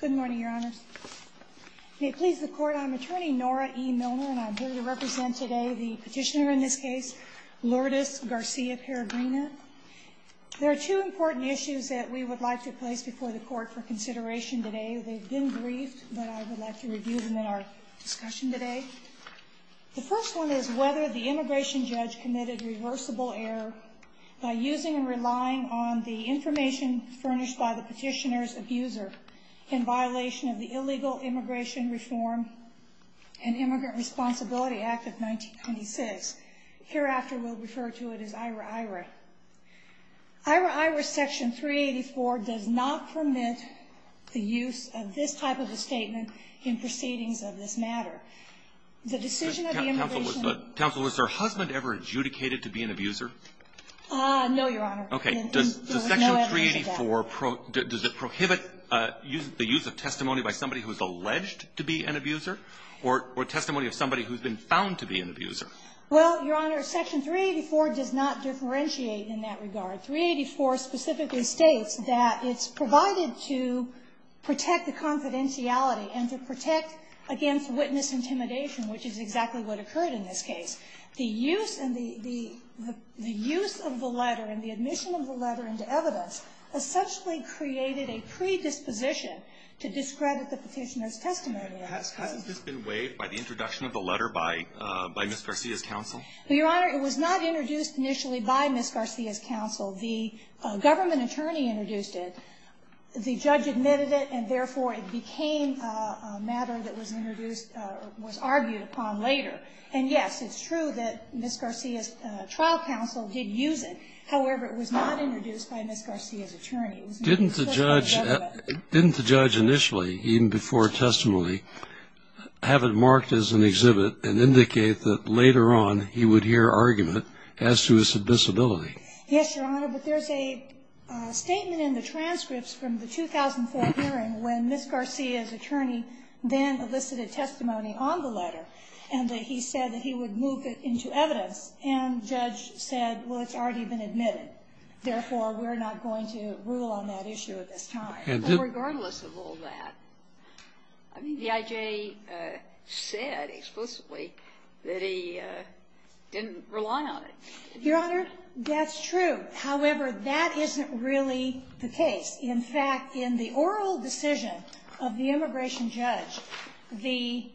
Good morning, Your Honors. May it please the Court, I'm Attorney Nora E. Milner, and I'm here to represent today the petitioner in this case, Lourdes Garcia-Peregrina. There are two important issues that we would like to place before the Court for consideration today. They've been briefed, but I would like to review them in our discussion today. The first one is whether the immigration judge committed reversible error by using and relying on the information furnished by the petitioner's abuser in violation of the Illegal Immigration Reform and Immigrant Responsibility Act of 1926. Hereafter, we'll refer to it as IRA-IRA. IRA-IRA Section 384 does not permit the use of this type of a statement in proceedings of this matter. The decision of the immigration – Counsel, was her husband ever adjudicated to be an abuser? No, Your Honor. Okay. Does Section 384 – does it prohibit the use of testimony by somebody who is alleged to be an abuser or testimony of somebody who's been found to be an abuser? Well, Your Honor, Section 384 does not differentiate in that regard. 384 specifically states that it's provided to protect the confidentiality and to protect against witness intimidation, which is exactly what occurred in this case. The use and the – the use of the letter and the admission of the letter into evidence essentially created a predisposition to discredit the petitioner's testimony. Has this been waived by the introduction of the letter by Ms. Garcia's counsel? Well, Your Honor, it was not introduced initially by Ms. Garcia's counsel. The government attorney introduced it. The judge admitted it, and therefore, it became a matter that was introduced – was argued upon later. And yes, it's true that Ms. Garcia's trial counsel did use it. However, it was not introduced by Ms. Garcia's attorney. Didn't the judge – didn't the judge initially, even before testimony, have it marked as an exhibit and indicate that later on he would hear argument as to his disability? Yes, Your Honor, but there's a statement in the transcripts from the 2004 hearing when Ms. Garcia's attorney then elicited testimony on the letter, and that he said that he would move it into evidence, and the judge said, well, it's already been admitted, therefore, we're not going to rule on that issue at this time. But regardless of all that, I mean, the I.J. said explicitly that he didn't rely on it. Your Honor, that's true. However, that isn't really the case. In fact, in the oral decision of the immigration judge, the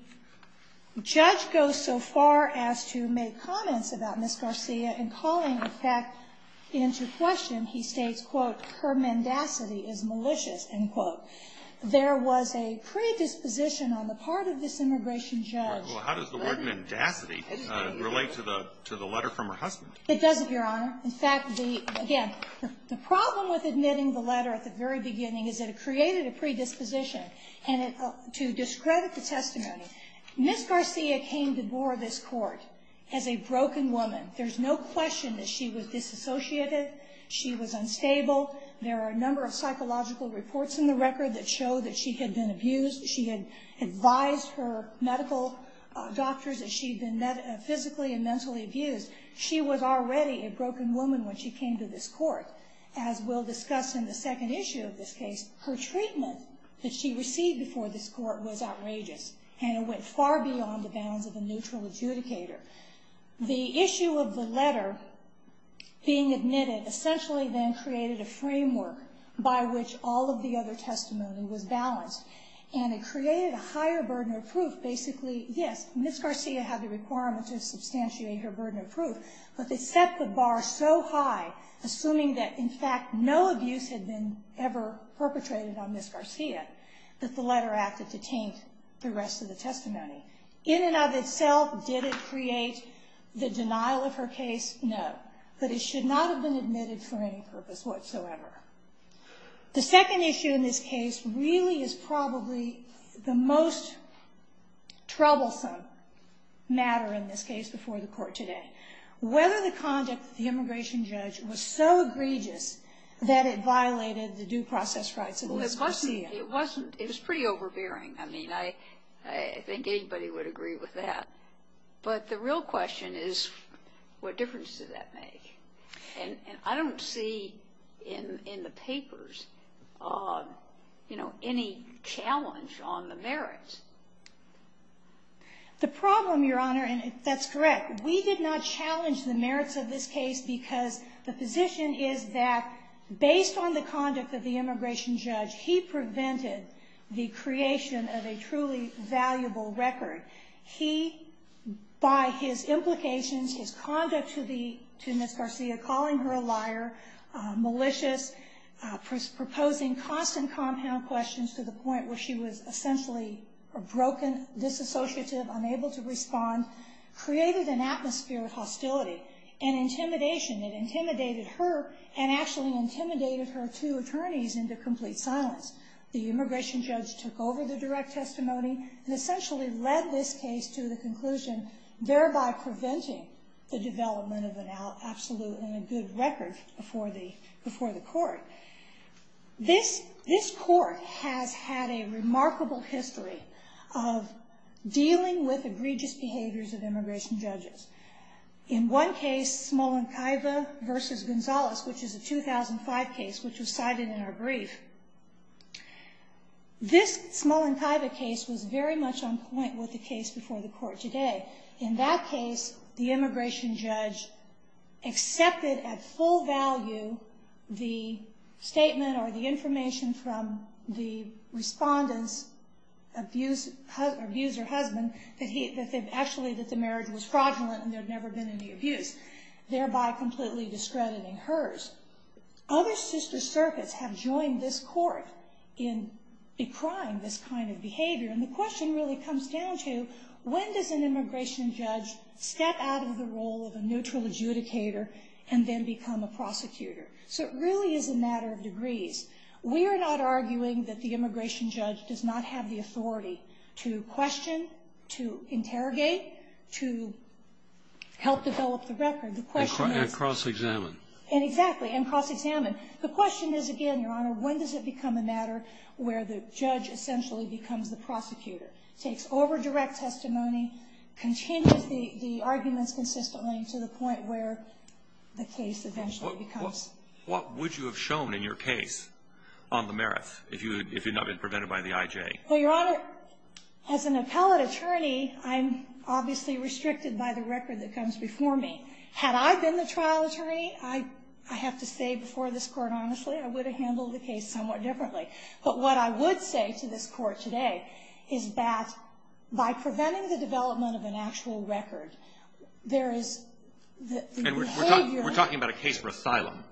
judge goes so far as to make comments about Ms. Garcia and calling, in fact, into question, he states, quote, her mendacity is malicious, end quote. There was a predisposition on the part of this immigration judge. Well, how does the word mendacity relate to the letter from her husband? It does, Your Honor. In fact, again, the problem with admitting the letter at the very beginning is that it created a predisposition. And to discredit the testimony, Ms. Garcia came to board this Court as a broken woman. There's no question that she was disassociated. She was unstable. There are a number of psychological reports in the record that show that she had been abused. She had advised her medical doctors that she had been physically and mentally abused. She was already a broken woman when she came to this Court. As we'll discuss in the second issue of this case, her treatment that she received before this Court was outrageous, and it went far beyond the bounds of a neutral adjudicator. The issue of the letter being admitted essentially then created a framework by which all of the other testimony was balanced. And it created a higher burden of proof. Basically, yes, Ms. Garcia had the requirement to substantiate her burden of proof, but they set the bar so high, assuming that, in fact, no abuse had been ever perpetrated on Ms. Garcia, that the letter acted to taint the rest of the testimony. In and of itself, did it create the denial of her case? No. But it should not have been admitted for any purpose whatsoever. The second issue in this case really is probably the most troublesome matter in this case before the Court today. Whether the conduct of the immigration judge was so egregious that it violated the due process rights of Ms. Garcia. It wasn't. It was pretty overbearing. I mean, I think anybody would agree with that. But the real question is, what difference did that make? And I don't see in the papers, you know, any challenge on the merits. The problem, Your Honor, and that's correct, we did not challenge the merits of this case because the position is that, based on the conduct of the immigration judge, he prevented the creation of a truly valuable record. He, by his implications, his conduct to Ms. Garcia, calling her a liar, malicious, proposing constant compound questions to the point where she was essentially broken, disassociative, unable to respond, created an atmosphere of hostility and intimidation that intimidatedated her and actually intimidated her two attorneys into complete silence. The immigration judge took over the direct testimony and essentially led this case to the conclusion, thereby preventing the development of an absolutely good record before the Court. This Court has had a remarkable history of dealing with egregious behaviors of immigration judges. In one case, Smolenkaeva v. Gonzalez, which is a 2005 case which was cited in our brief, this Smolenkaeva case was very much on point with the case before the Court today. In that case, the immigration judge accepted at full value the statement or the information from the respondent's abuser husband that the marriage was fraudulent and there had never been any abuse, thereby completely discrediting hers. Other sister circuits have joined this Court in decrying this kind of behavior, and the question really comes down to, when does an immigration judge step out of the role of a neutral adjudicator and then become a prosecutor? So it really is a matter of degrees. We are not arguing that the immigration judge does not have the authority to question, to interrogate, to help develop the record. The question is — And cross-examine. Exactly, and cross-examine. The question is, again, Your Honor, when does it become a matter where the judge essentially becomes the prosecutor, takes over direct testimony, continues the arguments consistently to the point where the case eventually becomes? What would you have shown in your case on the merits if you had not been prevented by the I.J.? Well, Your Honor, as an appellate attorney, I'm obviously restricted by the record that comes before me. Had I been the trial attorney, I have to say before this Court, honestly, I would have handled the case somewhat differently. But what I would say to this Court today is that by preventing the development of an actual record, there is — And we're talking about a case for asylum,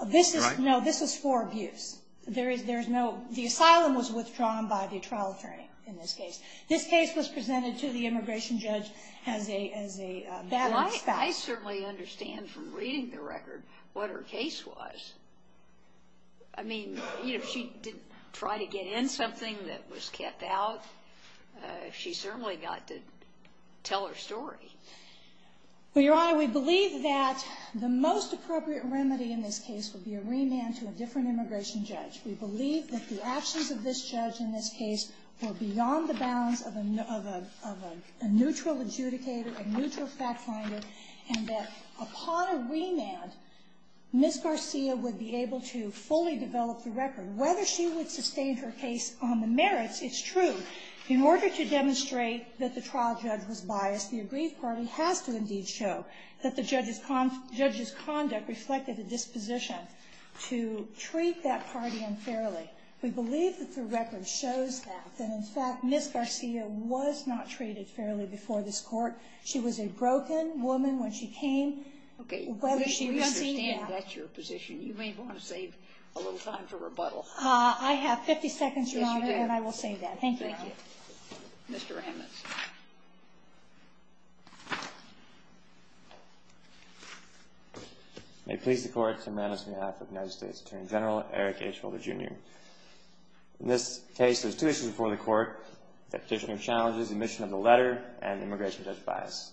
right? No, this is for abuse. There is no — the asylum was withdrawn by the trial attorney in this case. This case was presented to the immigration judge as a — Well, I certainly understand from reading the record what her case was. I mean, you know, she didn't try to get in something that was kept out. She certainly got to tell her story. Well, Your Honor, we believe that the most appropriate remedy in this case would be a remand to a different immigration judge. We believe that the actions of this judge in this case were beyond the bounds of a neutral adjudicator, a neutral fact finder, and that upon a remand, Ms. Garcia would be able to fully develop the record. Whether she would sustain her case on the merits, it's true. In order to demonstrate that the trial judge was biased, the agreed party has to indeed show that the judge's conduct reflected a disposition to treat that party unfairly. We believe that the record shows that, that in fact, Ms. Garcia was not treated fairly before this Court. She was a broken woman when she came. Okay. We understand that's your position. You may want to save a little time for rebuttal. I have 50 seconds, Your Honor, and I will say that. Thank you. Thank you. Mr. Ammons. May it please the Court, on behalf of the United States Attorney General, Eric H. Holder, Jr. In this case, there's two issues before the Court. The petitioner challenges the omission of the letter and the immigration judge's bias.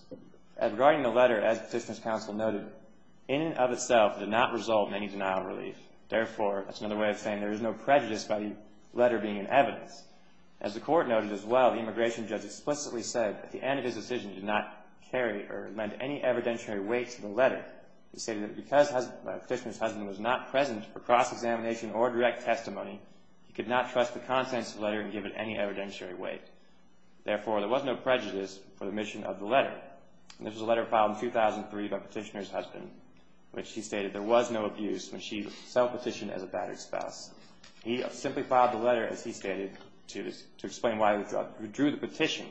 Regarding the letter, as the petitioner's counsel noted, in and of itself did not result in any denial of relief. Therefore, that's another way of saying there is no prejudice by the letter being an evidence. As the Court noted as well, the immigration judge explicitly said at the end of his decision did not carry or amend any evidentiary weight to the letter. He stated that because the petitioner's husband was not present for cross-examination or direct testimony, he could not trust the contents of the letter and give it any evidentiary weight. Therefore, there was no prejudice for the omission of the letter. This was a letter filed in 2003 by the petitioner's husband, which he stated there was no abuse when she self-petitioned as a battered spouse. He simply filed the letter, as he stated, to explain why he withdrew the petition.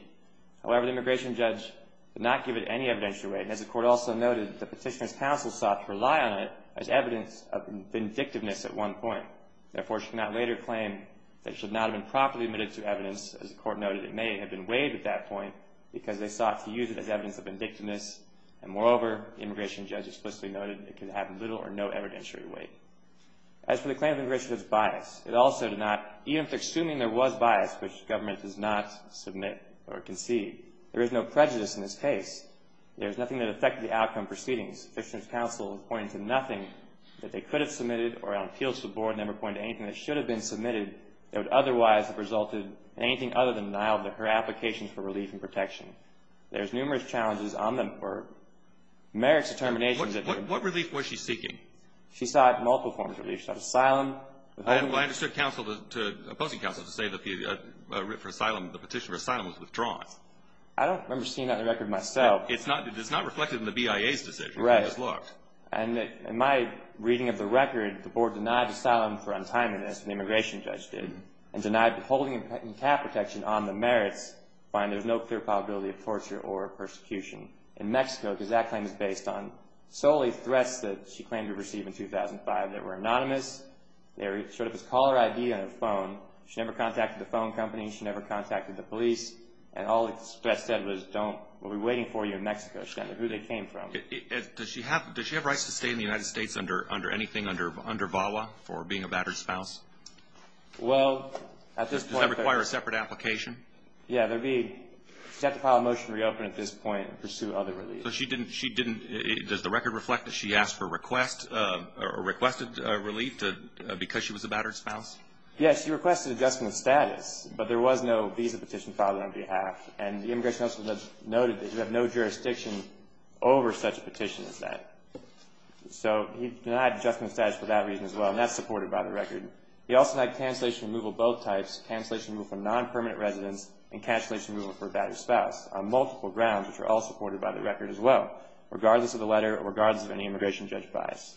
However, the immigration judge did not give it any evidentiary weight. As the Court also noted, the petitioner's counsel sought to rely on it as evidence of vindictiveness at one point. Therefore, she could not later claim that it should not have been properly omitted through evidence. As the Court noted, it may have been waived at that point because they sought to use it as evidence of vindictiveness. And moreover, the immigration judge explicitly noted it could have little or no evidentiary weight. As for the claim of immigration that's biased, it also did not, even if they're assuming there was bias, which the government does not submit or concede, there is no prejudice in this case. There is nothing that affected the outcome proceedings. The petitioner's counsel is pointing to nothing that they could have submitted or on appeals to the Board never pointed to anything that should have been submitted that would otherwise have resulted in anything other than denial of her applications for relief and protection. There's numerous challenges on the Court. Merrick's determination that the— What relief was she seeking? She sought multiple forms of relief. She sought asylum. I understood counsel, opposing counsel, to say that the petition for asylum was withdrawn. I don't remember seeing that in the record myself. It's not reflected in the BIA's decision. Right. And in my reading of the record, the Board denied asylum for untimeliness, and the immigration judge did, and denied holding and cat protection on the merits. I find there's no clear probability of torture or persecution in Mexico because that claim is based on solely threats that she claimed to receive in 2005 that were anonymous. They showed up as caller ID on her phone. She never contacted the phone company. She never contacted the police. Does she have rights to stay in the United States under anything, under VAWA, for being a battered spouse? Well, at this point— Does that require a separate application? Yeah, there'd be—she'd have to file a motion to reopen at this point and pursue other relief. So she didn't—does the record reflect that she asked for request or requested relief because she was a battered spouse? Yeah, she requested adjustment of status, but there was no visa petition filed on her behalf, and the immigration judge noted that you have no jurisdiction over such a petition as that. So he denied adjustment of status for that reason as well, and that's supported by the record. He also denied cancellation removal of both types, cancellation removal for non-permanent residents and cancellation removal for a battered spouse, on multiple grounds, which are all supported by the record as well, regardless of the letter or regardless of any immigration judge bias.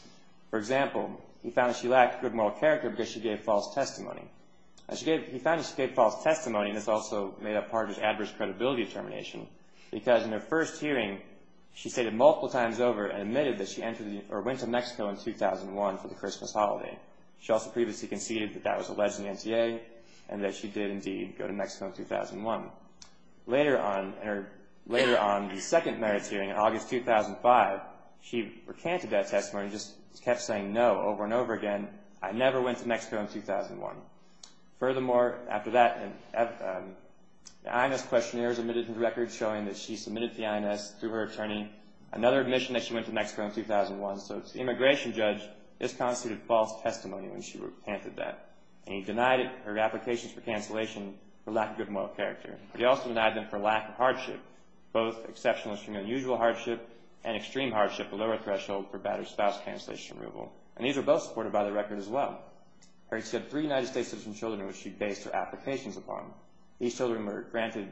For example, he found that she lacked good moral character because she gave false testimony. He found that she gave false testimony, and this also made up part of his adverse credibility determination, because in her first hearing, she stated multiple times over and admitted that she went to Mexico in 2001 for the Christmas holiday. She also previously conceded that that was alleged in the NTA and that she did indeed go to Mexico in 2001. Later on, the second merits hearing in August 2005, she recanted that testimony, and just kept saying no over and over again, I never went to Mexico in 2001. Furthermore, after that, the INS questionnaires admitted to the record showing that she submitted to the INS through her attorney, another admission that she went to Mexico in 2001. So to the immigration judge, this constituted false testimony when she recanted that, and he denied her applications for cancellation for lack of good moral character. He also denied them for lack of hardship, both exceptional and extremely unusual hardship and extreme hardship, a lower threshold for bad or spouse cancellation removal. And these were both supported by the record as well. She had three United States citizen children, which she based her applications upon. These children were granted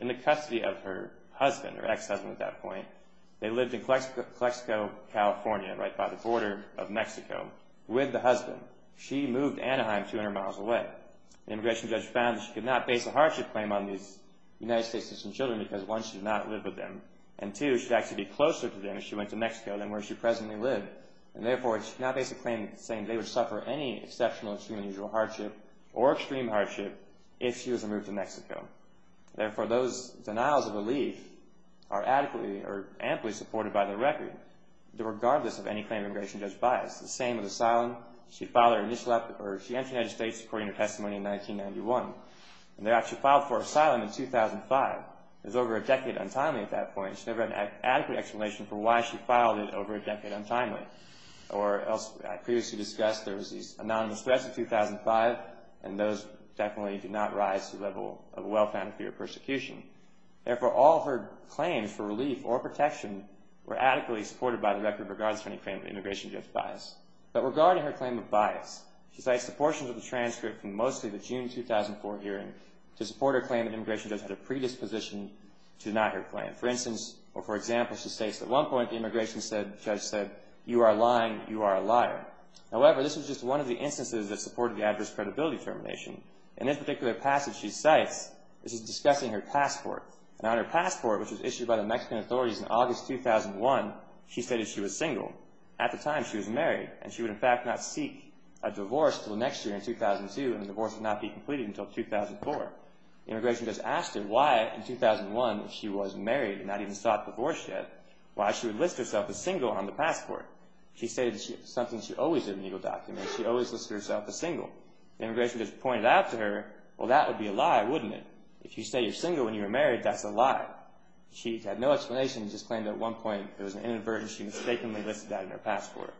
in the custody of her husband, her ex-husband at that point. They lived in Calexico, California, right by the border of Mexico, with the husband. She moved to Anaheim, 200 miles away. The immigration judge found that she could not base a hardship claim on these United States citizen children because, one, she did not live with them, and, two, she'd actually be closer to them if she went to Mexico than where she presently lived. And therefore, she could not base a claim saying they would suffer any exceptional, extremely unusual hardship or extreme hardship if she was to move to Mexico. Therefore, those denials of relief are adequately or amply supported by the record, regardless of any claim of immigration judge bias. The same with asylum. She entered the United States, according to testimony, in 1991. And there, she filed for asylum in 2005. It was over a decade untimely at that point, and she never had an adequate explanation for why she filed it over a decade untimely. Or, as previously discussed, there was these anonymous threats in 2005, and those definitely did not rise to the level of a well-founded fear of persecution. Therefore, all her claims for relief or protection were adequately supported by the record, regardless of any claim of immigration judge bias. But regarding her claim of bias, she cites the portions of the transcript from mostly the June 2004 hearing to support her claim that immigration judge had a predisposition to deny her claim. For instance, or for example, she states, at one point the immigration judge said, you are lying, you are a liar. However, this was just one of the instances that supported the adverse credibility termination. In this particular passage, she cites, this is discussing her passport. And on her passport, which was issued by the Mexican authorities in August 2001, she stated she was single. At the time, she was married. And she would, in fact, not seek a divorce until next year in 2002, and the divorce would not be completed until 2004. The immigration judge asked her why, in 2001, she was married and not even sought a divorce yet, why she would list herself as single on the passport. She stated it was something she always did in legal documents. She always listed herself as single. The immigration judge pointed out to her, well, that would be a lie, wouldn't it? If you say you're single when you were married, that's a lie. She had no explanation. She just claimed at one point it was an inadvertence. She mistakenly listed that in her passport.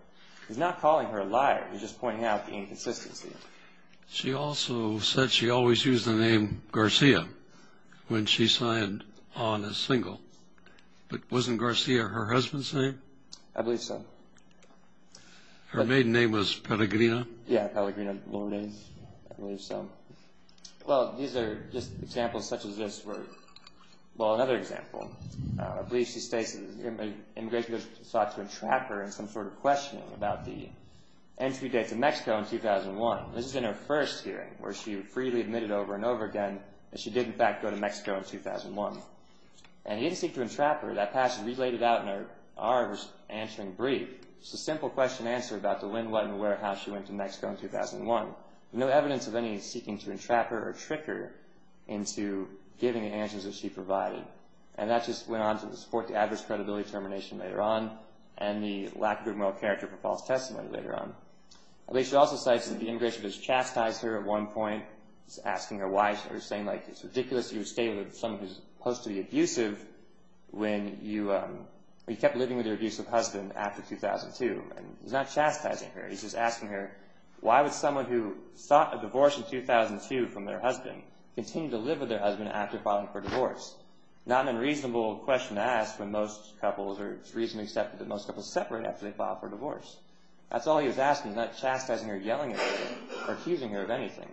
He's not calling her a liar. He's just pointing out the inconsistency. She also said she always used the name Garcia when she signed on as single. But wasn't Garcia her husband's name? I believe so. Her maiden name was Pellegrina? Yeah, Pellegrina, a lower name. I believe so. Well, these are just examples such as this were, well, another example. I believe she states that the immigration judge sought to entrap her in some sort of questioning about the entry date to Mexico in 2001. This is in her first hearing where she freely admitted over and over again that she did, in fact, go to Mexico in 2001. And he didn't seek to entrap her. That passage was laid out in our answering brief. It's a simple question and answer about the when, what, and where, how she went to Mexico in 2001. No evidence of any seeking to entrap her or trick her into giving the answers that she provided. And that just went on to support the adverse credibility termination later on and the lack of good moral character for false testimony later on. I believe she also cites that the immigration judge chastised her at one point. He's asking her why. She's saying, like, it's ridiculous you would stay with someone who's supposed to be abusive when you kept living with your abusive husband after 2002. And he's not chastising her. He's just asking her why would someone who sought a divorce in 2002 from their husband continue to live with their husband after filing for divorce? Not an unreasonable question to ask when most couples or it's reasonably accepted that most couples separate after they file for divorce. That's all he was asking. He's not chastising her, yelling at her, or accusing her of anything.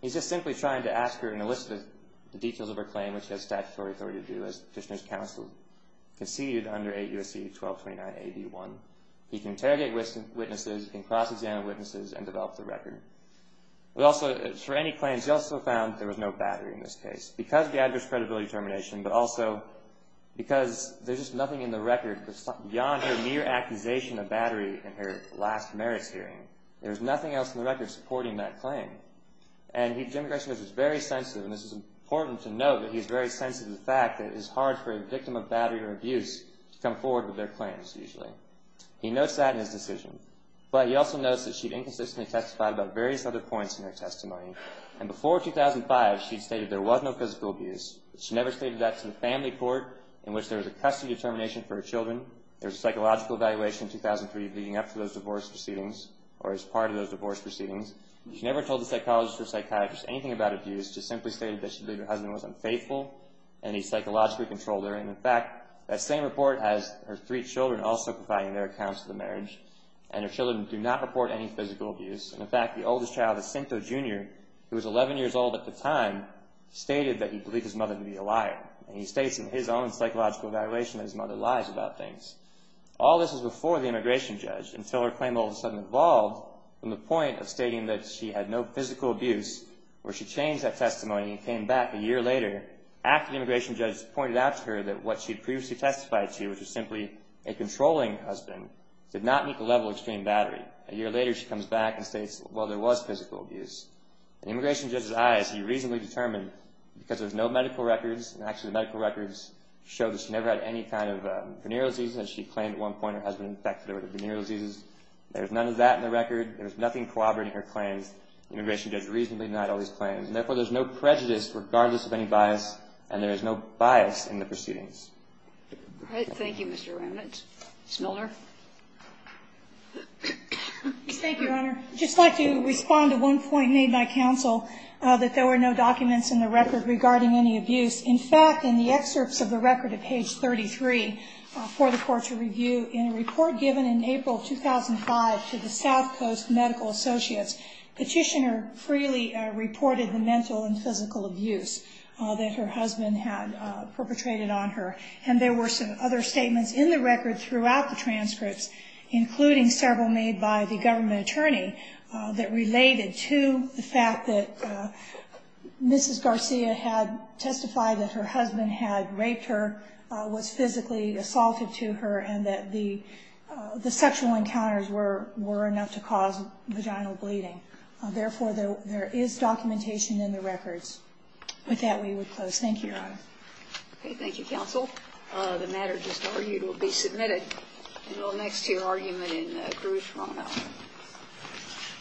He's just simply trying to ask her and elicit the details of her claim, which he has statutory authority to do, as Fishner's counsel conceded under 8 U.S.C. 1229a.b.1. He can interrogate witnesses. He can cross-examine witnesses and develop the record. For any claims, he also found there was no battery in this case because of the adverse credibility termination, but also because there's just nothing in the record beyond her mere accusation of battery in her last merits hearing. There's nothing else in the record supporting that claim. And Jim Gresham is very sensitive, and this is important to note that he's very sensitive to the fact that it is hard for a victim of battery or abuse to come forward with their claims, usually. He notes that in his decision. But he also notes that she'd inconsistently testified about various other points in her testimony. And before 2005, she'd stated there was no physical abuse. She never stated that to the family court, in which there was a custody determination for her children. There was a psychological evaluation in 2003 leading up to those divorce proceedings, or as part of those divorce proceedings. She never told the psychologist or psychiatrist anything about abuse, just simply stated that she believed her husband was unfaithful, and he psychologically controlled her. And in fact, that same report has her three children also providing their accounts of the marriage. And her children do not report any physical abuse. And in fact, the oldest child, Jacinto Jr., who was 11 years old at the time, stated that he believed his mother to be a liar. And he states in his own psychological evaluation that his mother lies about things. All this was before the immigration judge, until her claim all of a sudden evolved from the point of stating that she had no physical abuse, where she changed that testimony and came back a year later, after the immigration judge pointed out to her that what she had previously testified to, which was simply a controlling husband, did not meet the level of extreme battery. A year later, she comes back and states, well, there was physical abuse. In the immigration judge's eyes, he reasonably determined, because there's no medical records, and actually the medical records show that she never had any kind of venereal diseases. She claimed at one point her husband infected her with venereal diseases. There was none of that in the record. There was nothing corroborating her claims. The immigration judge reasonably denied all these claims. And therefore, there's no prejudice regardless of any bias, and there is no bias in the proceedings. All right. Thank you, Mr. Remnitz. Ms. Miller. Thank you, Your Honor. I'd just like to respond to one point made by counsel, that there were no documents in the record regarding any abuse. In fact, in the excerpts of the record at page 33 for the Court to review, in a report given in April 2005 to the South Coast Medical Associates, Petitioner freely reported the mental and physical abuse that her husband had perpetrated on her. And there were some other statements in the record throughout the transcripts, including several made by the government attorney that related to the fact that Mrs. Garcia had testified that her husband had raped her, was physically assaulted to her, and that the sexual encounters were enough to cause vaginal bleeding. Therefore, there is documentation in the records. With that, we would close. Thank you, Your Honor. Okay. Thank you, counsel. The matter just argued will be submitted in the next-year argument in Grue, Toronto.